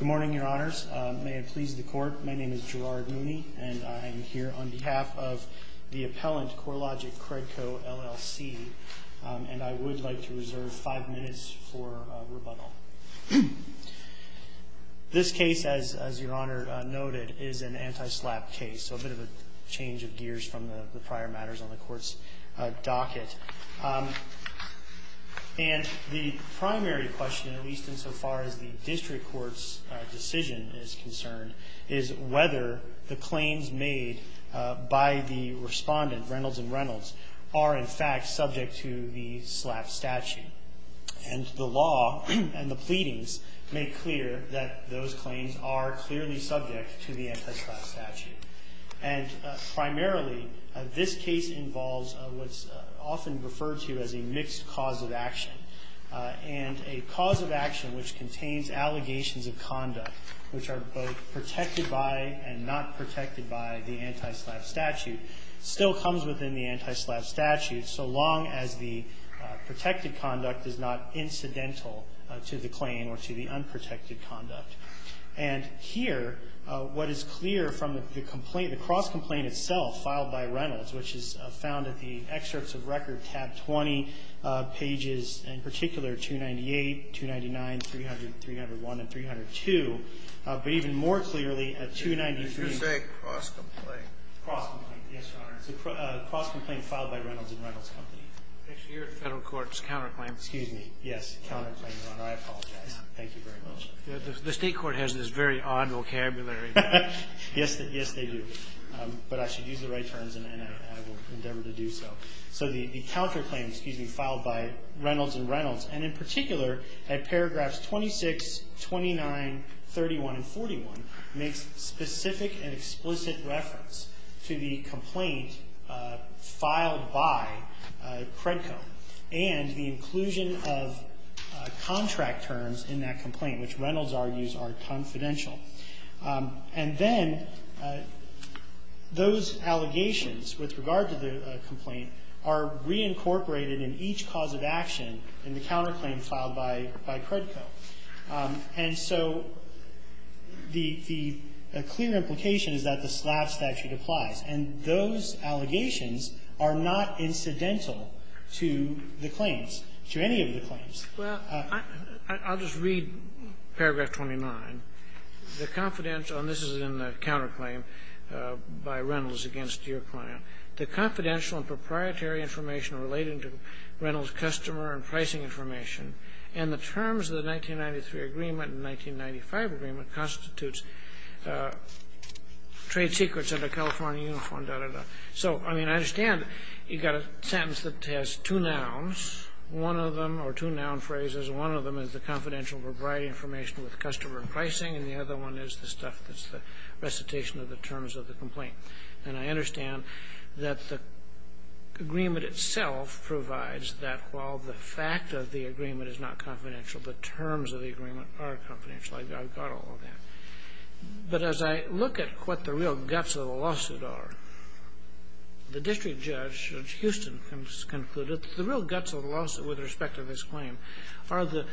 Good morning, Your Honors. May it please the Court, my name is Gerard Mooney, and I'm here on behalf of the appellant, CoreLogic Credco, LLC, and I would like to reserve five minutes for rebuttal. This case, as Your Honor noted, is an anti-SLAPP case, so a bit of a change of gears from the prior matters on the Court's docket. And the primary question, at least insofar as the District Court's decision is concerned, is whether the claims made by the respondent, Reynolds & Reynolds, are in fact subject to the SLAPP statute. And the law and the pleadings make clear that those claims are clearly subject to the anti-SLAPP statute. And primarily, this case involves what's often referred to as a mixed cause of action. And a cause of action which contains allegations of conduct, which are both protected by and not protected by the anti-SLAPP statute, still comes within the anti-SLAPP statute, so long as the protected conduct is not incidental to the claim or to the unprotected conduct. And here, what is clear from the complaint, the cross-complaint itself filed by Reynolds, which is found in the excerpts of record, tab 20, pages, in particular, 298, 299, 300, 301, and 302, but even more clearly at 293. Kennedy, did you say cross-complaint? Cross-complaint, yes, Your Honor. It's a cross-complaint filed by Reynolds & Reynolds Company. Actually, you're at Federal Court's counterclaim. Excuse me. Yes, counterclaim, Your Honor. I apologize. Thank you very much. The State Court has this very odd vocabulary. Yes, they do. But I should use the right terms, and I will endeavor to do so. So the counterclaim, excuse me, filed by Reynolds & Reynolds, and in particular, at paragraphs 26, 29, 31, and 41, makes specific and explicit reference to the complaint filed by Credco. And the inclusion of contract terms in that complaint, which Reynolds argues are confidential. And then those allegations with regard to the complaint are reincorporated in each cause of action in the counterclaim filed by Credco. And so the clear implication is that the slab statute applies. And those allegations are not incidental to the claims, to any of the claims. Well, I'll just read paragraph 29. The confidential, and this is in the counterclaim by Reynolds against your client. The confidential and proprietary information relating to Reynolds' customer and pricing information. And the terms of the 1993 agreement and 1995 agreement constitutes trade secrets under California Uniform, da, da, da. So, I mean, I understand you've got a sentence that has two nouns, one of them, or two noun phrases. One of them is the confidential and proprietary information with customer and pricing, and the other one is the stuff that's the recitation of the terms of the complaint. And I understand that the agreement itself provides that while the fact of the agreement is not confidential, the terms of the agreement are confidential. I've got all of that. But as I look at what the real guts of the lawsuit are, the district judge, Judge Houston, has concluded that the real guts of the lawsuit with respect to this claim are the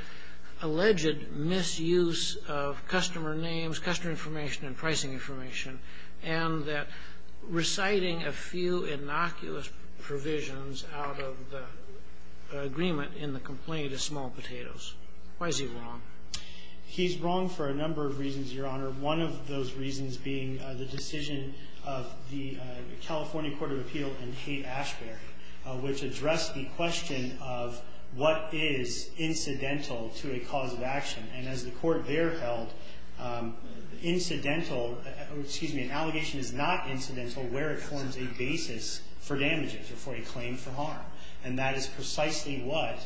alleged misuse of customer names, customer information, and pricing information, and that reciting a few innocuous provisions out of the agreement in the complaint is small potatoes. Why is he wrong? He's wrong for a number of reasons, Your Honor. One of those reasons being the decision of the California Court of Appeal in Haight-Ashbury, which addressed the question of what is incidental to a cause of action. And as the court there held, an allegation is not incidental where it forms a basis for damages or for a claim for harm. And that is precisely what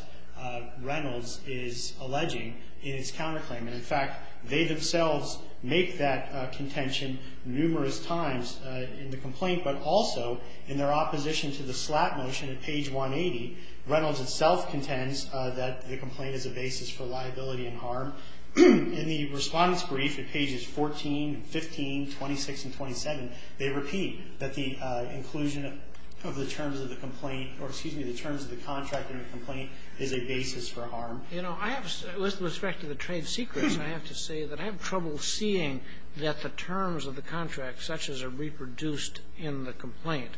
Reynolds is alleging in its counterclaim. And, in fact, they themselves make that contention numerous times in the complaint, but also in their opposition to the slap motion at page 180, Reynolds itself contends that the complaint is a basis for liability and harm. In the Respondent's brief at pages 14 and 15, 26 and 27, they repeat that the inclusion of the terms of the complaint or, excuse me, the terms of the contract in the complaint is a basis for harm. You know, I have to say, with respect to the trade secrets, I have to say that I have trouble seeing that the terms of the contract, such as are reproduced in the complaint,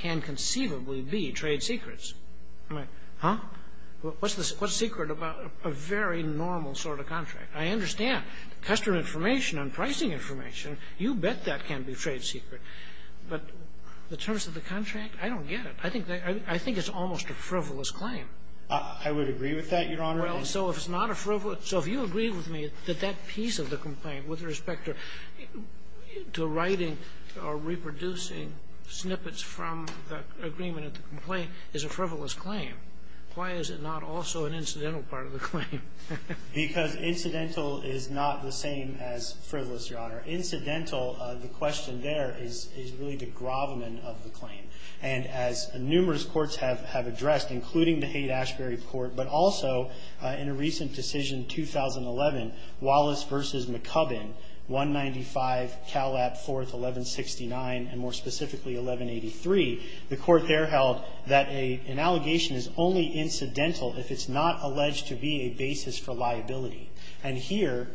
can conceivably be trade secrets. I'm like, huh, what's the secret about a very normal sort of contract? I understand. Customer information and pricing information, you bet that can be trade secret. But the terms of the contract, I don't get it. I think it's almost a frivolous claim. I would agree with that, Your Honor. Well, so if it's not a frivolous – so if you agree with me that that piece of the complaint, with respect to writing or reproducing snippets from the agreement of the complaint, is a frivolous claim, why is it not also an incidental part of the claim? Because incidental is not the same as frivolous, Your Honor. Incidental, the question there, is really the grovelman of the claim. And as numerous courts have addressed, including the Haight-Ashbury Court, but also, in a recent decision, 2011, Wallace v. McCubbin, 195, Cal Lap, 4th, 1169, and more specifically, 1183, the court there held that an allegation is only incidental if it's not alleged to be a basis for liability. And here,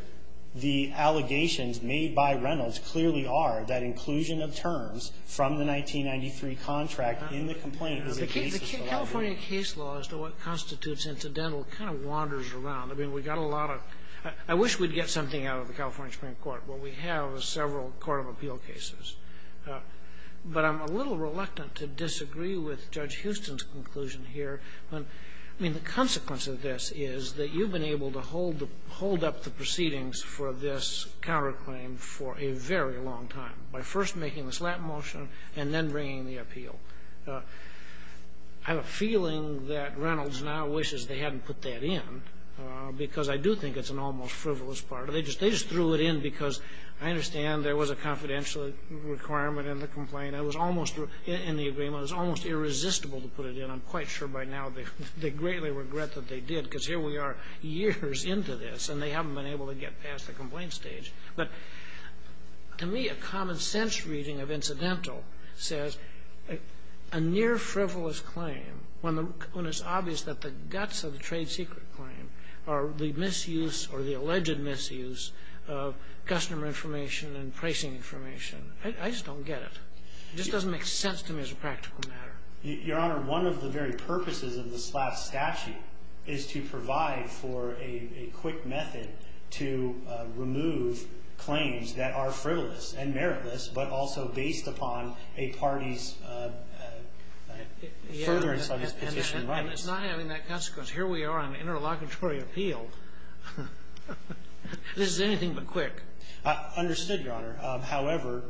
the allegations made by Reynolds clearly are that inclusion of terms from the 1993 contract in the complaint is a basis for liability. The California case law as to what constitutes incidental kind of wanders around. I mean, we got a lot of – I wish we'd get something out of the California Supreme Court, but we have several court of appeal cases. But I'm a little reluctant to disagree with Judge Houston's conclusion here. I mean, the consequence of this is that you've been able to hold the – hold up the proceedings for this counterclaim for a very long time. By first making the slap motion and then bringing the appeal. I have a feeling that Reynolds now wishes they hadn't put that in, because I do think it's an almost frivolous part of it. They just threw it in because I understand there was a confidential requirement in the complaint. It was almost – in the agreement, it was almost irresistible to put it in. I'm quite sure by now they greatly regret that they did, because here we are years into this, and they haven't been able to get past the complaint stage. But to me, a common-sense reading of incidental says a near-frivolous claim, when it's obvious that the guts of the trade secret claim are the misuse or the alleged misuse of customer information and pricing information, I just don't get it. It just doesn't make sense to me as a practical matter. Your Honor, one of the very purposes of the slap statute is to provide for a quick method to remove claims that are frivolous and meritless, but also based upon a party's furtherance of its position of rights. And it's not having that consequence. Here we are on an interlocutory appeal. This is anything but quick. Understood, Your Honor. However,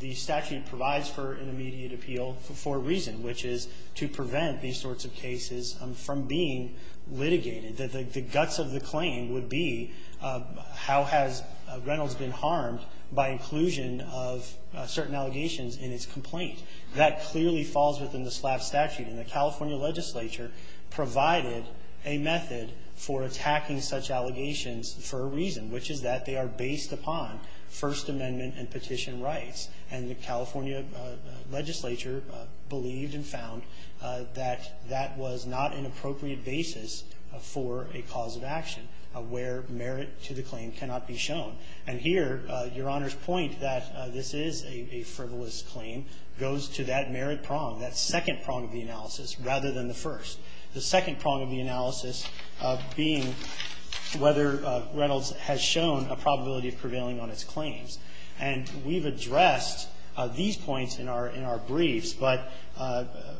the statute provides for an immediate appeal for a reason, which is to prevent these sorts of cases from being litigated. The guts of the claim would be how has Reynolds been harmed by inclusion of certain allegations in its complaint. That clearly falls within the slap statute. And the California legislature provided a method for attacking such allegations for a reason, which is that they are based upon First Amendment and petition rights. And the California legislature believed and found that that was not an appropriate basis for a cause of action, where merit to the claim cannot be shown. And here, Your Honor's point that this is a frivolous claim goes to that merit prong, that second prong of the analysis, rather than the first. The second prong of the analysis being whether Reynolds has shown a probability of prevailing on its claims. And we've addressed these points in our briefs, but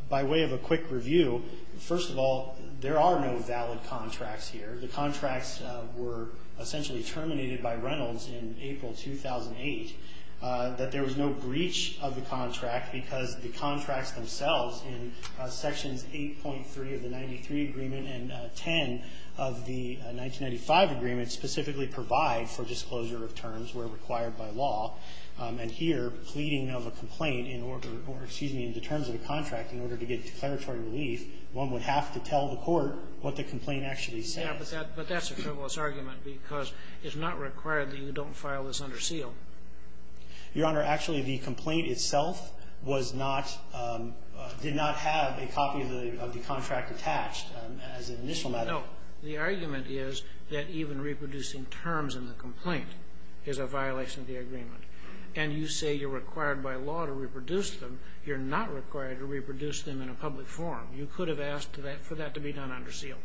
by way of a quick review, first of all, there are no valid contracts here. The contracts were essentially terminated by Reynolds in April 2008. That there was no breach of the contract because the contracts themselves in Sections 8.3 of the 93 Agreement and 10 of the 1995 Agreement specifically provide for disclosure of terms where required by law. And here, pleading of a complaint in order, or excuse me, in the terms of the contract in order to get declaratory relief, one would have to tell the court what the complaint actually says. Yeah, but that's a frivolous argument because it's not required that you don't file this under seal. Your Honor, actually, the complaint itself was not, did not have a copy of the contract attached as an initial matter. No. The argument is that even reproducing terms in the complaint is a violation of the agreement. And you say you're required by law to reproduce them. You're not required to reproduce them in a public forum. You could have asked for that to be done under seal.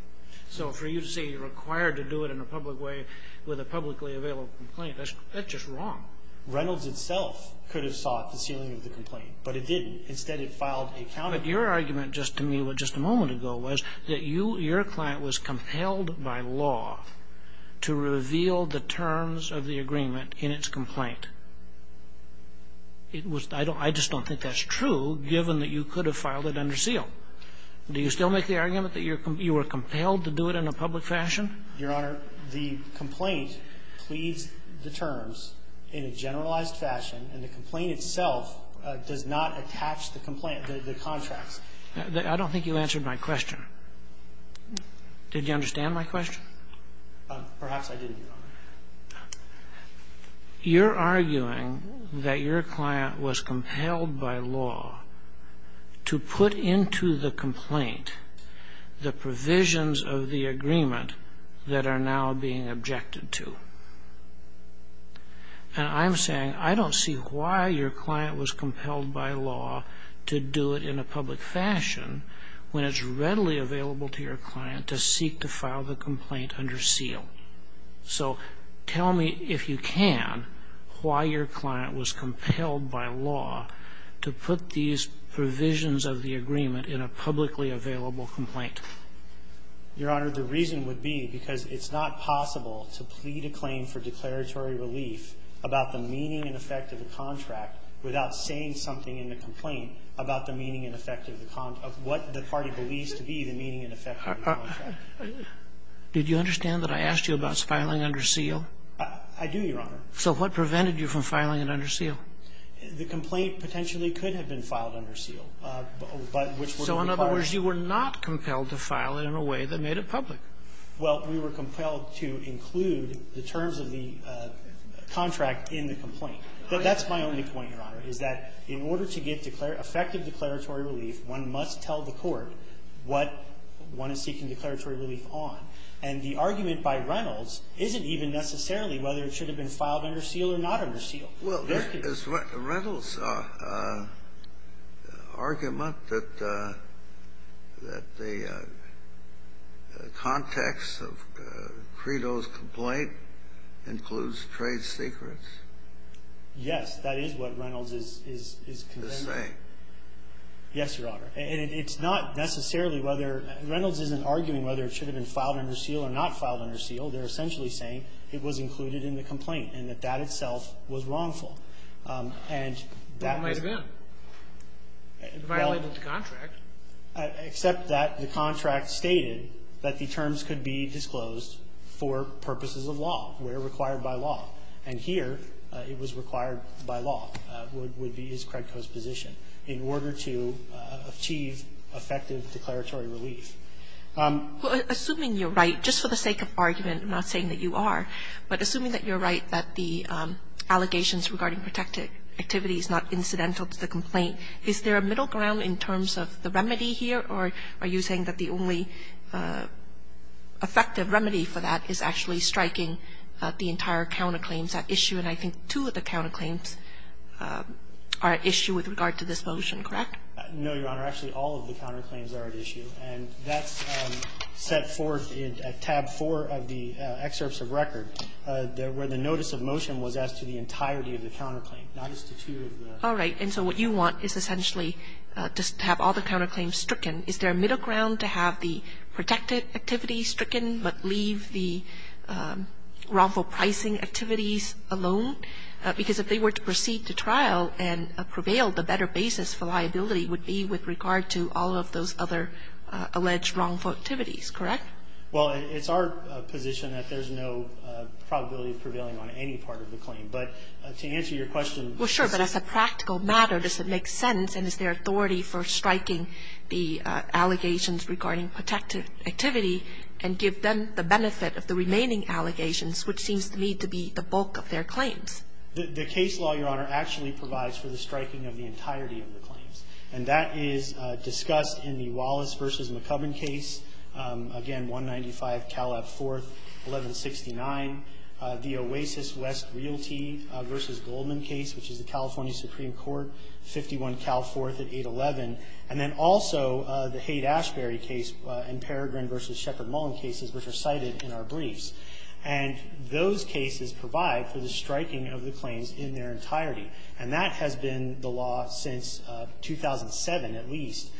So for you to say you're required to do it in a public way with a publicly available complaint, that's just wrong. Reynolds itself could have sought the sealing of the complaint, but it didn't. Instead, it filed a counter. But your argument just to me, just a moment ago, was that your client was compelled by law to reveal the terms of the agreement in its complaint. It was the ideal. I just don't think that's true, given that you could have filed it under seal. Do you still make the argument that you were compelled to do it in a public fashion? Your Honor, the complaint pleads the terms in a generalized fashion, and the complaint itself does not attach the complaint, the contracts. I don't think you answered my question. Perhaps I didn't, Your Honor. You're arguing that your client was compelled by law to put into the complaint the provisions of the agreement that are now being objected to. And I'm saying I don't see why your client was compelled by law to do it in a public fashion when it's readily available to your client to seek to file the complaint under seal. So tell me, if you can, why your client was compelled by law to put these provisions of the agreement in a publicly available complaint. Your Honor, the reason would be because it's not possible to plead a claim for declaratory relief about the meaning and effect of the contract without saying something in the complaint about the meaning and effect of the contract, of what the party believes to be the meaning and effect of the contract. Did you understand that I asked you about filing under seal? I do, Your Honor. So what prevented you from filing it under seal? The complaint potentially could have been filed under seal, but which would require So, in other words, you were not compelled to file it in a way that made it public. Well, we were compelled to include the terms of the contract in the complaint. But that's my only point, Your Honor, is that in order to get effective declaratory relief, one must tell the court what one is seeking declaratory relief on. And the argument by Reynolds isn't even necessarily whether it should have been filed under seal or not under seal. Well, is Reynolds' argument that the context of Credo's complaint includes trade secrets? Yes, that is what Reynolds is saying. Yes, Your Honor. And it's not necessarily whether – Reynolds isn't arguing whether it should have been filed under seal or not filed under seal. They're essentially saying it was included in the complaint and that that itself was wrongful. And that was – It might have been. It violated the contract. Except that the contract stated that the terms could be disclosed for purposes of law, where required by law. And here it was required by law, would be his Credco's position. In order to achieve effective declaratory relief. Well, assuming you're right, just for the sake of argument, I'm not saying that you are, but assuming that you're right, that the allegations regarding protected activity is not incidental to the complaint, is there a middle ground in terms of the remedy here, or are you saying that the only effective remedy for that is actually striking the entire counterclaims at issue? And I think two of the counterclaims are at issue with regard to this motion, correct? No, Your Honor. Actually, all of the counterclaims are at issue. And that's set forth in tab four of the excerpts of record, where the notice of motion was as to the entirety of the counterclaim, not as to two of the – All right. And so what you want is essentially just to have all the counterclaims stricken. Is there a middle ground to have the protected activities stricken, but leave the wrongful pricing activities alone? Because if they were to proceed to trial and prevail, the better basis for liability would be with regard to all of those other alleged wrongful activities, correct? Well, it's our position that there's no probability of prevailing on any part of the claim. But to answer your question – Well, sure, but as a practical matter, does it make sense, and is there authority for striking the allegations regarding protected activity and give them the benefit of the remaining allegations, which seems to me to be the bulk of their claims? The case law, Your Honor, actually provides for the striking of the entirety of the claims. And that is discussed in the Wallace v. McCubbin case, again, 195 Calab 4th, 1169. The Oasis West Realty v. Goldman case, which is the California Supreme Court, 51 Cal 4th at 811. And then also the Haight-Ashbury case and Peregrin v. Sheckard-Mullen cases, which are cited in our briefs. And those cases provide for the striking of the claims in their entirety. And that has been the law since 2007, at least,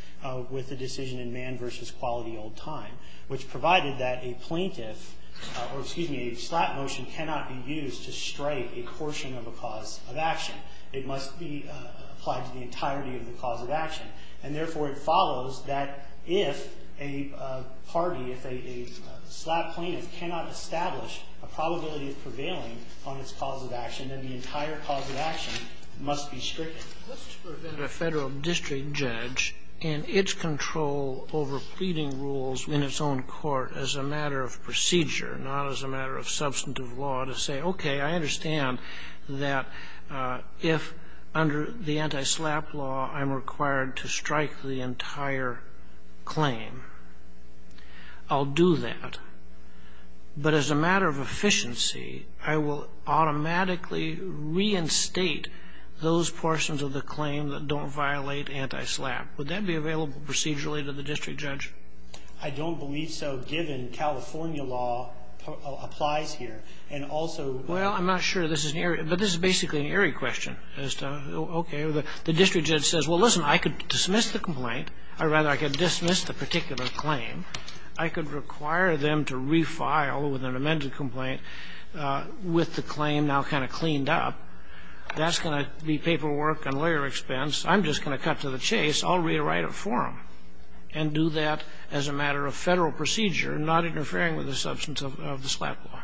with the decision in Mann v. Quality Old Time, which provided that a plaintiff – or, excuse me, a slap motion cannot be used to strike a portion of a cause of action. It must be applied to the entirety of the cause of action. And therefore, it follows that if a party, if a slap plaintiff cannot establish a probability of prevailing on its cause of action, then the entire cause of action must be stricken. Let's prevent a Federal district judge and its control over pleading rules in its own court as a matter of procedure, not as a matter of substantive law, to say, okay, I understand that if, under the anti-slap law, I'm required to strike the entire claim, I'll do that. But as a matter of efficiency, I will automatically reinstate those portions of the claim that don't violate anti-slap. Would that be available procedurally to the district judge? I don't believe so, given California law applies here. And also the other thing is, if the district judge says, well, listen, I could dismiss the complaint, or rather, I could dismiss the particular claim, I could require them to refile with an amended complaint with the claim now kind of cleaned up, that's going to be paperwork and lawyer expense, I'm just going to cut to the chase, I'll rewrite it for them and do that as a matter of Federal procedure, not interfering with the substance of the slap law.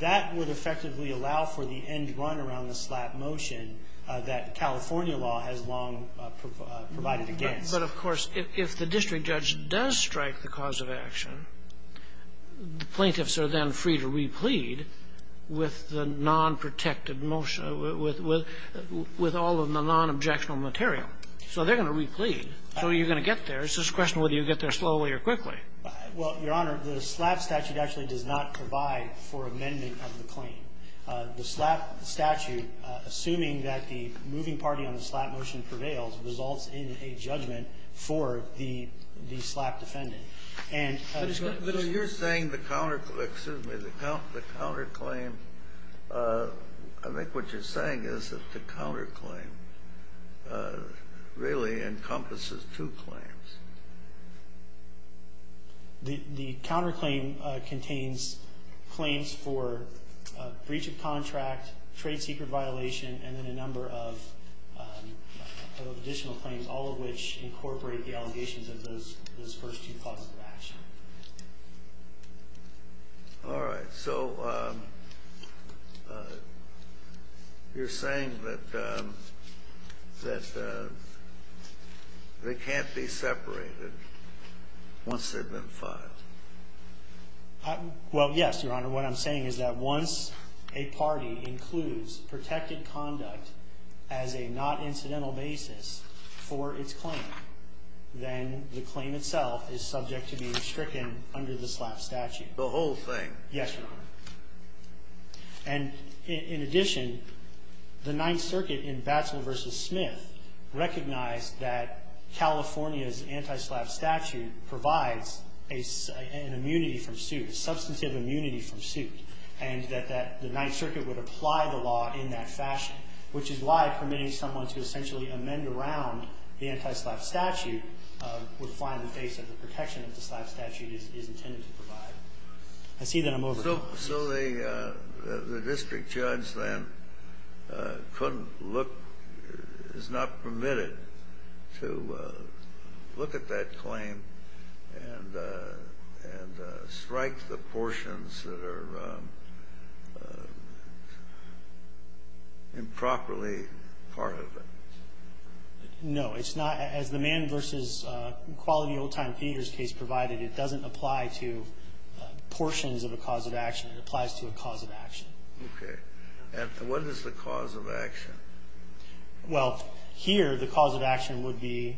That would effectively allow for the end run around the slap motion that California law has long provided against. But, of course, if the district judge does strike the cause of action, the plaintiffs are then free to replete with the nonprotected motion, with all of the nonobjectional material. So they're going to replete. So you're going to get there. It's just a question of whether you get there slowly or quickly. Well, Your Honor, the slap statute actually does not provide for amendment of the claim. The slap statute, assuming that the moving party on the slap motion prevails, results in a judgment for the slap defendant. And so you're saying the counter claim, excuse me, the counterclaim, I think what you're saying is that the counterclaim really encompasses two claims. The counterclaim contains claims for breach of contract, trade secret violation, and then a number of additional claims, all of which incorporate the allegations of those first two causes of action. All right. So you're saying that they can't be separated from the other two. They can't be separated once they've been filed. Well, yes, Your Honor. What I'm saying is that once a party includes protected conduct as a not incidental basis for its claim, then the claim itself is subject to be restricted under the slap statute. The whole thing? Yes, Your Honor. And in addition, the Ninth Circuit in Batswell v. Smith recognized that California's anti-slap statute provides an immunity from suit, substantive immunity from suit, and that the Ninth Circuit would apply the law in that fashion, which is why permitting someone to essentially amend around the anti-slap statute would find the basis of the protection that the slap statute is intended to provide. I see that. I'm over. So the district judge, then, couldn't look, is not permitted to look at that claim and strike the portions that are improperly part of it? No. It's not. As the Mann v. Quality Old Time Painters case provided, it doesn't apply to portions of a cause of action. It applies to a cause of action. Okay. And what is the cause of action? Well, here, the cause of action would be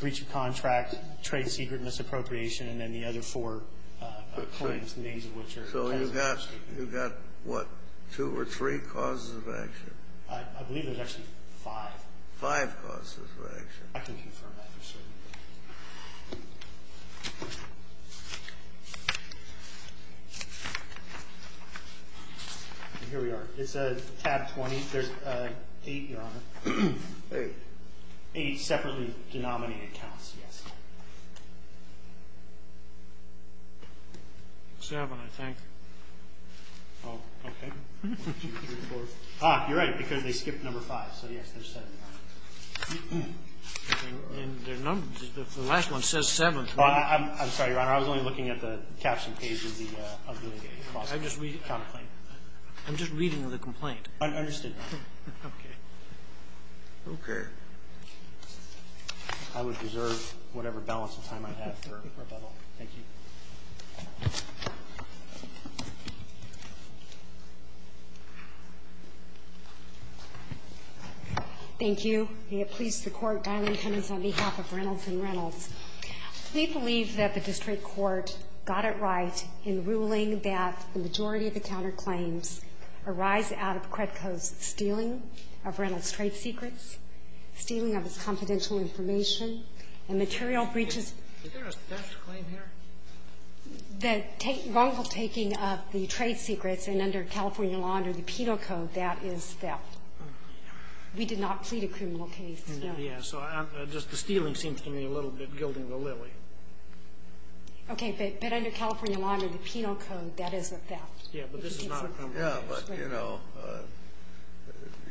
breach of contract, trade secret misappropriation, and then the other four claims, the names of which are cancelled. So you've got, you've got, what, two or three causes of action? I believe there's actually five. Five causes of action. I can confirm that for certain. Here we are. It's a tab 20. There's eight, Your Honor. Eight separately denominated counts, yes. Seven, I think. Oh, okay. One, two, three, four. Ah, you're right, because they skipped number five. So, yes, there's seven. And the numbers, the last one says seven. I'm sorry, Your Honor. I was only looking at the caption page of the, of the lawsuit. I'm just reading the complaint. I'm just reading the complaint. I understand that. Okay. Okay. I would reserve whatever balance of time I have for rebuttal. Thank you. Thank you. May it please the Court, Darlene Hemmings, on behalf of Reynolds & Reynolds. We believe that the district court got it right in ruling that the majority of the counterclaims arise out of Kretko's stealing of Reynolds' trade secrets, stealing of his confidential information, and material breaches. Is there a theft claim here? The wrongful taking of the trade secrets, and under California law, under the Penal Code, that is theft. We did not plead a criminal case, no. Yes, so just the stealing seems to me a little bit gilding the lily. Okay, but under California law, under the Penal Code, that is a theft. Yes, but this is not a criminal case. Yes, but, you know,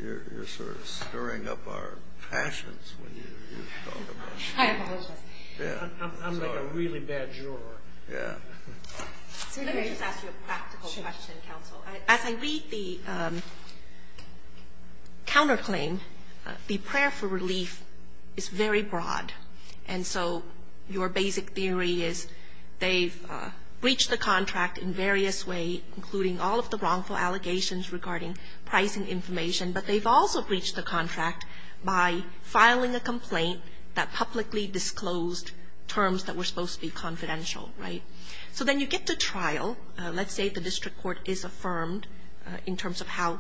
you're sort of stirring up our passions when you talk about it. I apologize. I'm like a really bad juror. Yeah. Let me just ask you a practical question, counsel. As I read the counterclaim, the prayer for relief is very broad. And so your basic theory is they've breached the contract in various ways, including all of the wrongful allegations regarding price and information, but they've also breached the contract by filing a complaint that publicly disclosed terms that were supposed to be confidential, right? So then you get to trial. Let's say the district court is affirmed in terms of how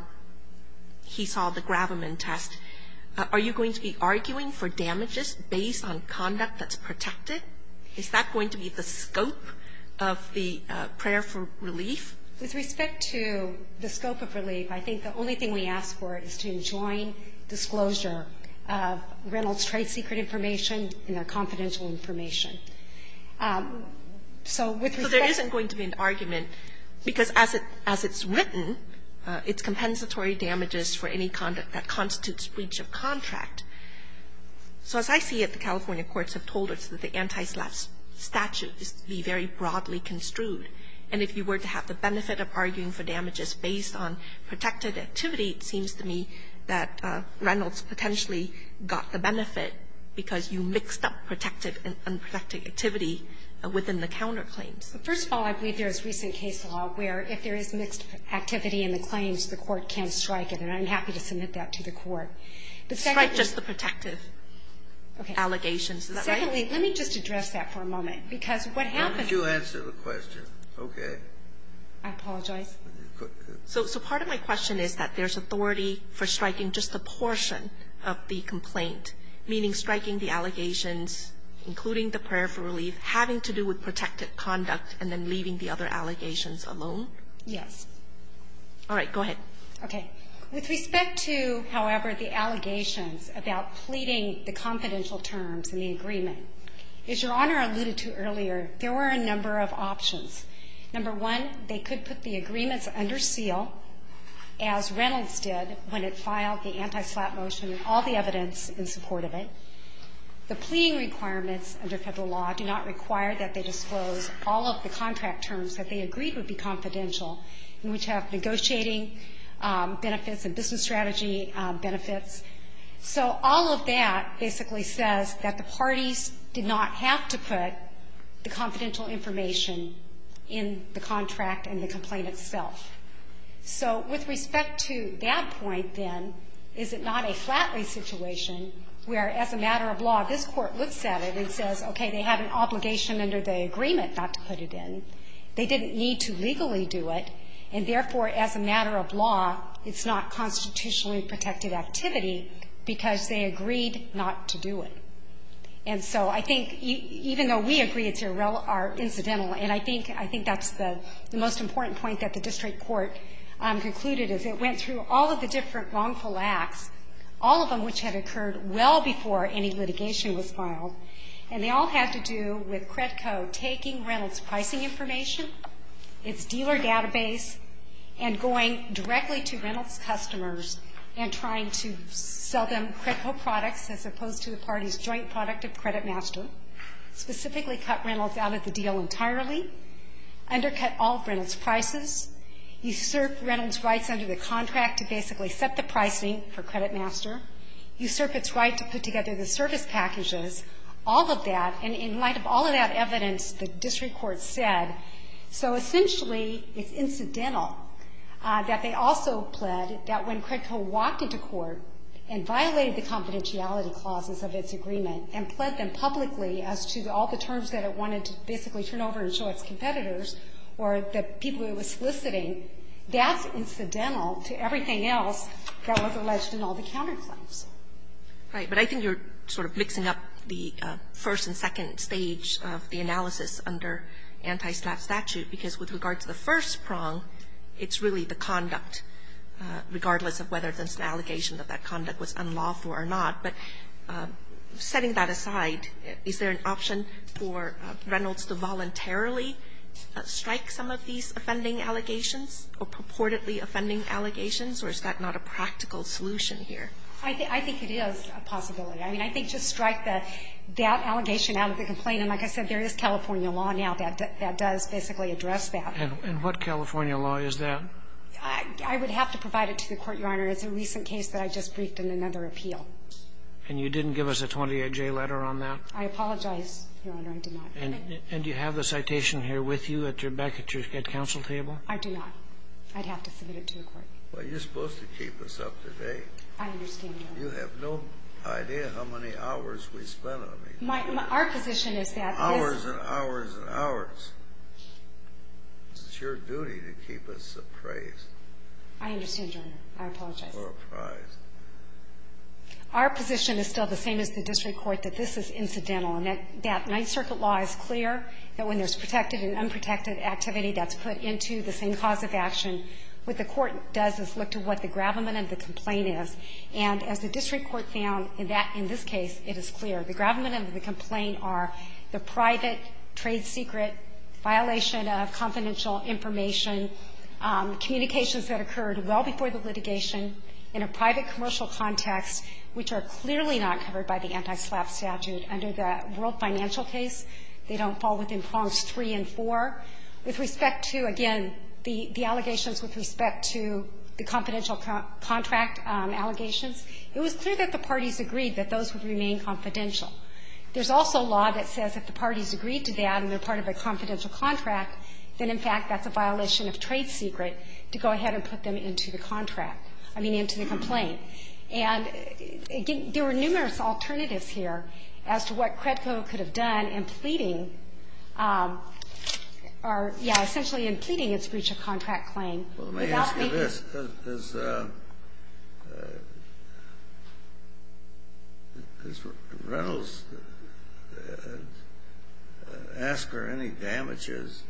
he saw the Graviman test. Are you going to be arguing for damages based on conduct that's protected? Is that going to be the scope of the prayer for relief? With respect to the scope of relief, I think the only thing we ask for is to join in the same disclosure of Reynolds' trade secret information and their confidential information. So with respect to the grant. So there isn't going to be an argument, because as it's written, it's compensatory damages for any conduct that constitutes breach of contract. So as I see it, the California courts have told us that the antislav statute is to be very broadly construed. And if you were to have the benefit of arguing for damages based on protected activity, it seems to me that Reynolds potentially got the benefit, because you mixed up protected and unprotected activity within the counterclaims. First of all, I believe there's recent case law where if there is mixed activity in the claims, the court can strike it, and I'm happy to submit that to the court. The second is the protective allegations. Is that right? Secondly, let me just address that for a moment, because what happened How would you answer the question? Okay. I apologize. So part of my question is that there's authority for striking just a portion of the complaint, meaning striking the allegations, including the prayer for relief, having to do with protected conduct, and then leaving the other allegations alone? Yes. All right. Go ahead. Okay. With respect to, however, the allegations about pleading the confidential terms in the agreement, as Your Honor alluded to earlier, there were a number of options. Number one, they could put the agreements under seal, as Reynolds did when it filed the anti-SLAP motion and all the evidence in support of it. The pleading requirements under Federal law do not require that they disclose all of the contract terms that they agreed would be confidential, which have negotiating benefits and business strategy benefits. So all of that basically says that the parties did not have to put the confidential information in the contract and the complaint itself. So with respect to that point, then, is it not a Flatley situation where, as a matter of law, this Court looks at it and says, okay, they have an obligation under the agreement not to put it in. They didn't need to legally do it, and therefore, as a matter of law, it's not constitutionally protected activity because they agreed not to do it. And so I think even though we agree it's incidental, and I think that's the most important point that the district court concluded, is it went through all of the different wrongful acts, all of them which had occurred well before any litigation was filed, and they all had to do with Credco taking Reynolds' pricing information, its dealer database, and going directly to Reynolds' customers and trying to sell them Credco products as opposed to the parties' joint product of Credit Master, specifically cut Reynolds out of the deal entirely, undercut all of Reynolds' prices, usurp Reynolds' rights under the contract to basically set the pricing for Credit Master, usurp its right to put together the service packages, all of that, and in light of all of that evidence, the district court said, so essentially, it's incidental that they also pled that when Credco walked into court and violated the confidentiality clauses of its agreement and pled them publicly as to all the terms that it wanted to basically turn over and show its competitors or the people it was soliciting, that's incidental to everything else that was alleged in all the counterclaims. Right. But I think you're sort of mixing up the first and second stage of the analysis under anti-SLAP statute, because with regard to the first prong, it's really the conduct, regardless of whether it's an allegation that that conduct was unlawful or not. But setting that aside, is there an option for Reynolds to voluntarily strike some of these offending allegations or purportedly offending allegations, or is that not a practical solution here? I think it is a possibility. I mean, I think just strike that allegation out of the complaint. And like I said, there is California law now that does basically address that. And what California law is that? I would have to provide it to the court, Your Honor. It's a recent case that I just briefed in another appeal. And you didn't give us a 28-J letter on that? I apologize, Your Honor, I did not. And do you have the citation here with you back at your counsel table? I do not. I'd have to submit it to the court. Well, you're supposed to keep us up to date. I understand, Your Honor. You have no idea how many hours we spent on it. Our position is that this- Hours and hours and hours. It's your duty to keep us appraised. I understand, Your Honor. I apologize. We're apprised. Our position is still the same as the district court, that this is incidental. And that Ninth Circuit law is clear that when there's protected and unprotected activity, that's put into the same cause of action. What the court does is look to what the gravamen of the complaint is. And as the district court found in that – in this case, it is clear. The gravamen of the complaint are the private trade secret violation of confidential information, communications that occurred well before the litigation in a private commercial context, which are clearly not covered by the anti-SLAPP statute under the World Financial case. They don't fall within prongs three and four. With respect to, again, the allegations with respect to the confidential contract allegations, it was clear that the parties agreed that those would remain confidential. There's also law that says if the parties agreed to that and they're part of a confidential contract, then, in fact, that's a violation of trade secret to go ahead and put them into the contract – I mean, into the complaint. And there were numerous alternatives here as to what CREDCO could have done in pleading – or, yeah, essentially in pleading its breach of contract claim without making – which is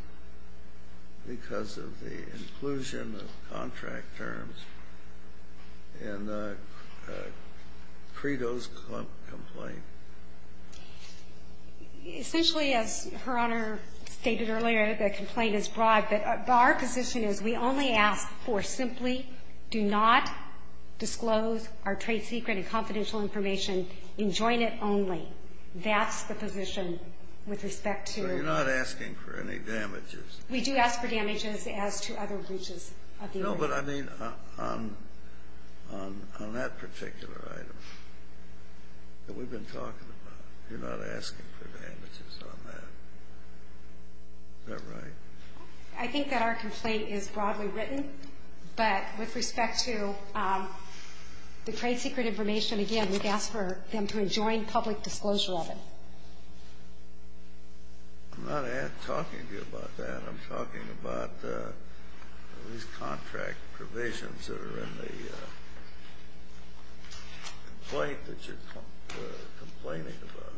because of the inclusion of contract terms in the CREDCO's complaint. Essentially, as Her Honor stated earlier, the complaint is broad. But our position is we only ask for simply do not disclose our trade secret and confidential information in jointed only. You're not asking for any damages. We do ask for damages as to other breaches of the agreement. No, but I mean on that particular item that we've been talking about, you're not asking for damages on that. Is that right? I think that our complaint is broadly written. But with respect to the trade secret information, again, we've asked for them to enjoin public disclosure of it. I'm not talking to you about that. I'm talking about these contract provisions that are in the complaint that you're complaining about.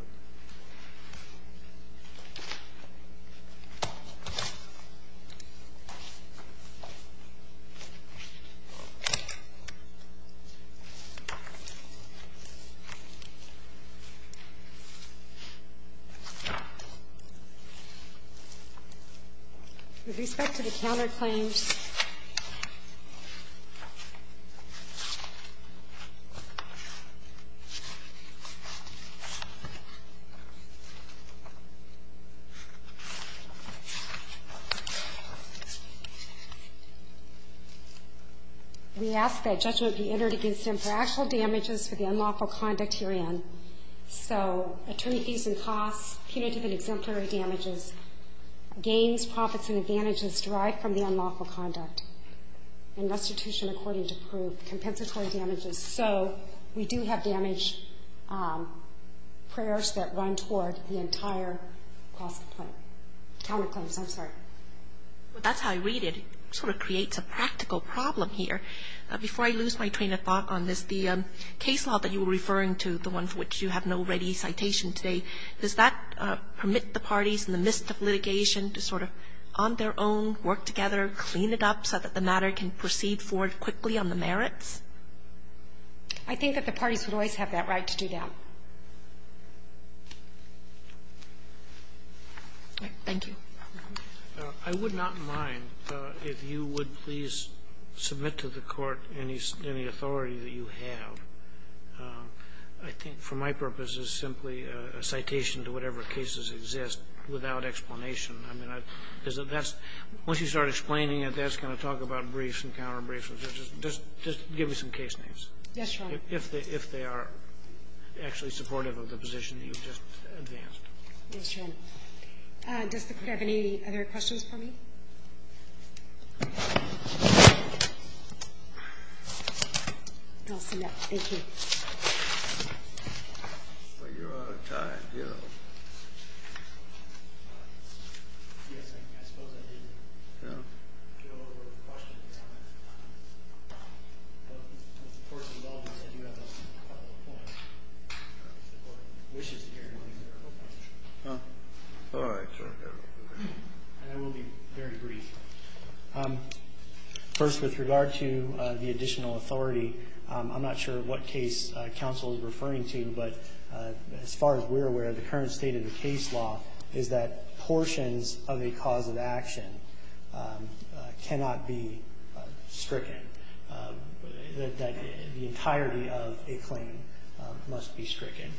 With respect to the counterclaims, the counterclaims that are in the CREDCO, again, we ask that judgment be entered against him for actual damages for the unlawful conduct herein. So attorneys and costs, punitive and exemplary damages, gains, profits, and advantages derived from the unlawful conduct, and restitution according to proof, compensatory damages. So we do have damage prayers that run toward the entire counterclaims. I'm sorry. But that's how I read it. It sort of creates a practical problem here. Before I lose my train of thought on this, the case law that you were referring to, the one for which you have no ready citation today, does that permit the parties in the midst of litigation to sort of on their own work together, clean it up so that the matter can proceed forward quickly on the merits? I think that the parties would always have that right to do that. Thank you. I would not mind if you would please submit to the Court any authority that you have. I think for my purposes, simply a citation to whatever cases exist without explanation. I mean, that's – once you start explaining it, that's going to talk about briefs and counterbriefs. Just give me some case names. Yes, Your Honor. If they are actually supportive of the position you've just advanced. Yes, Your Honor. Does the Court have any other questions for me? I'll submit. Thank you. I'm afraid you're out of time, Gil. Yes, I suppose I did get a little over the question at this time. But since the Court's involved in this, I do have a follow-up point. If the Court wishes to hear any more, I hope that's true. All right. And I will be very brief. First, with regard to the additional authority, I'm not sure what case counsel is referring to, but as far as we're aware, the current state of the case law is that portions of a cause of action cannot be stricken, that the entirety of a claim must be stricken.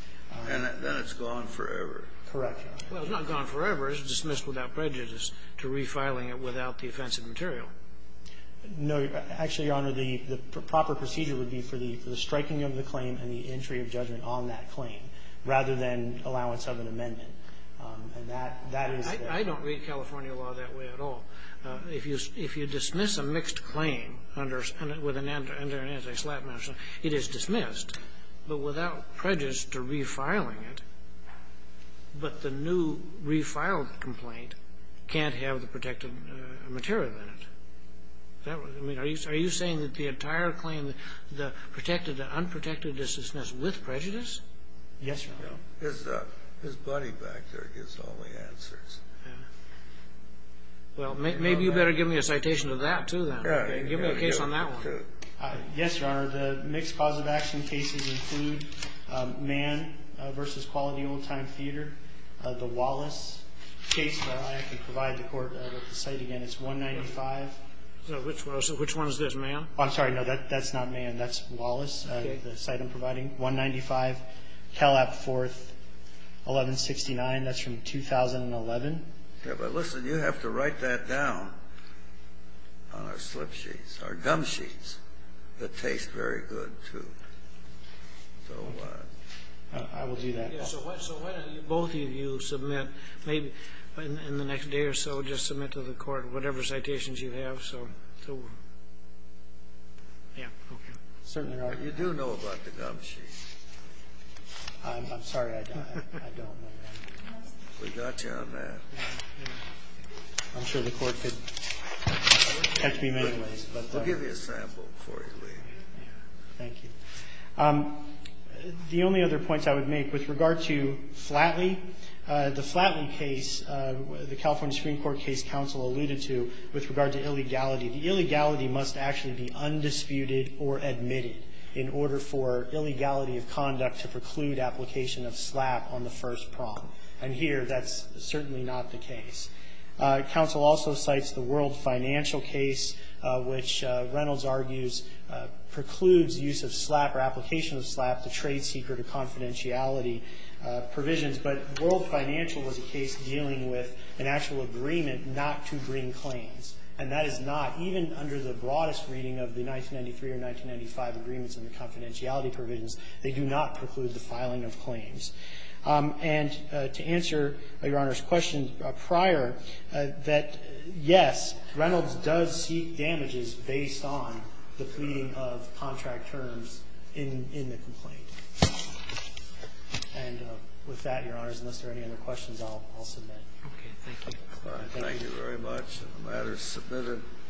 And then it's gone forever. Correct, Your Honor. Well, it's not gone forever. It's dismissed without prejudice to refiling it without the offensive material. No. Actually, Your Honor, the proper procedure would be for the striking of the claim and the entry of judgment on that claim rather than allowance of an amendment. I don't read California law that way at all. If you dismiss a mixed claim under an anti-SLAP measure, it is dismissed, but without prejudice to refiling it. But the new refiled complaint can't have the protective material in it. Are you saying that the entire claim, the protected, the unprotected dissonance with prejudice? Yes, Your Honor. His buddy back there gives all the answers. Well, maybe you better give me a citation of that, too, then. Give me a case on that one. Yes, Your Honor. The mixed cause of action cases include Mann v. Quality Old Time Theater, the Wallace case. I can provide the court with the site again. It's 195. So which one is this, Mann? I'm sorry. No, that's not Mann. That's Wallace, the site I'm providing. 195 Kellap 4th, 1169. That's from 2011. Yes, but listen, you have to write that down on our slip sheets, our gum sheets that taste very good, too. So I will do that. So why don't you both of you submit, maybe in the next day or so, just submit to the court whatever citations you have. Yeah, okay. Certainly, Your Honor. You do know about the gum sheet. I'm sorry, I don't. I don't know. We got you on that. I'm sure the court could catch me in many ways. We'll give you a sample before you leave. Thank you. The only other points I would make with regard to Flatley, the Flatley case, the California Supreme Court case counsel alluded to with regard to illegality. The illegality must actually be undisputed or admitted in order for illegality of conduct to preclude application of SLAP on the first prompt. And here, that's certainly not the case. Counsel also cites the World Financial case, which Reynolds argues precludes use of SLAP or application of SLAP to trade secret or confidentiality provisions. But World Financial was a case dealing with an actual agreement not to bring claims. And that is not, even under the broadest reading of the 1993 or 1995 agreements and the confidentiality provisions, they do not preclude the filing of claims. And to answer Your Honor's question prior, that, yes, Reynolds does seek damages based on the pleading of contract terms in the complaint. And with that, Your Honors, unless there are any other questions, I'll submit. Okay. Thank you. Thank you very much. The matter is submitted.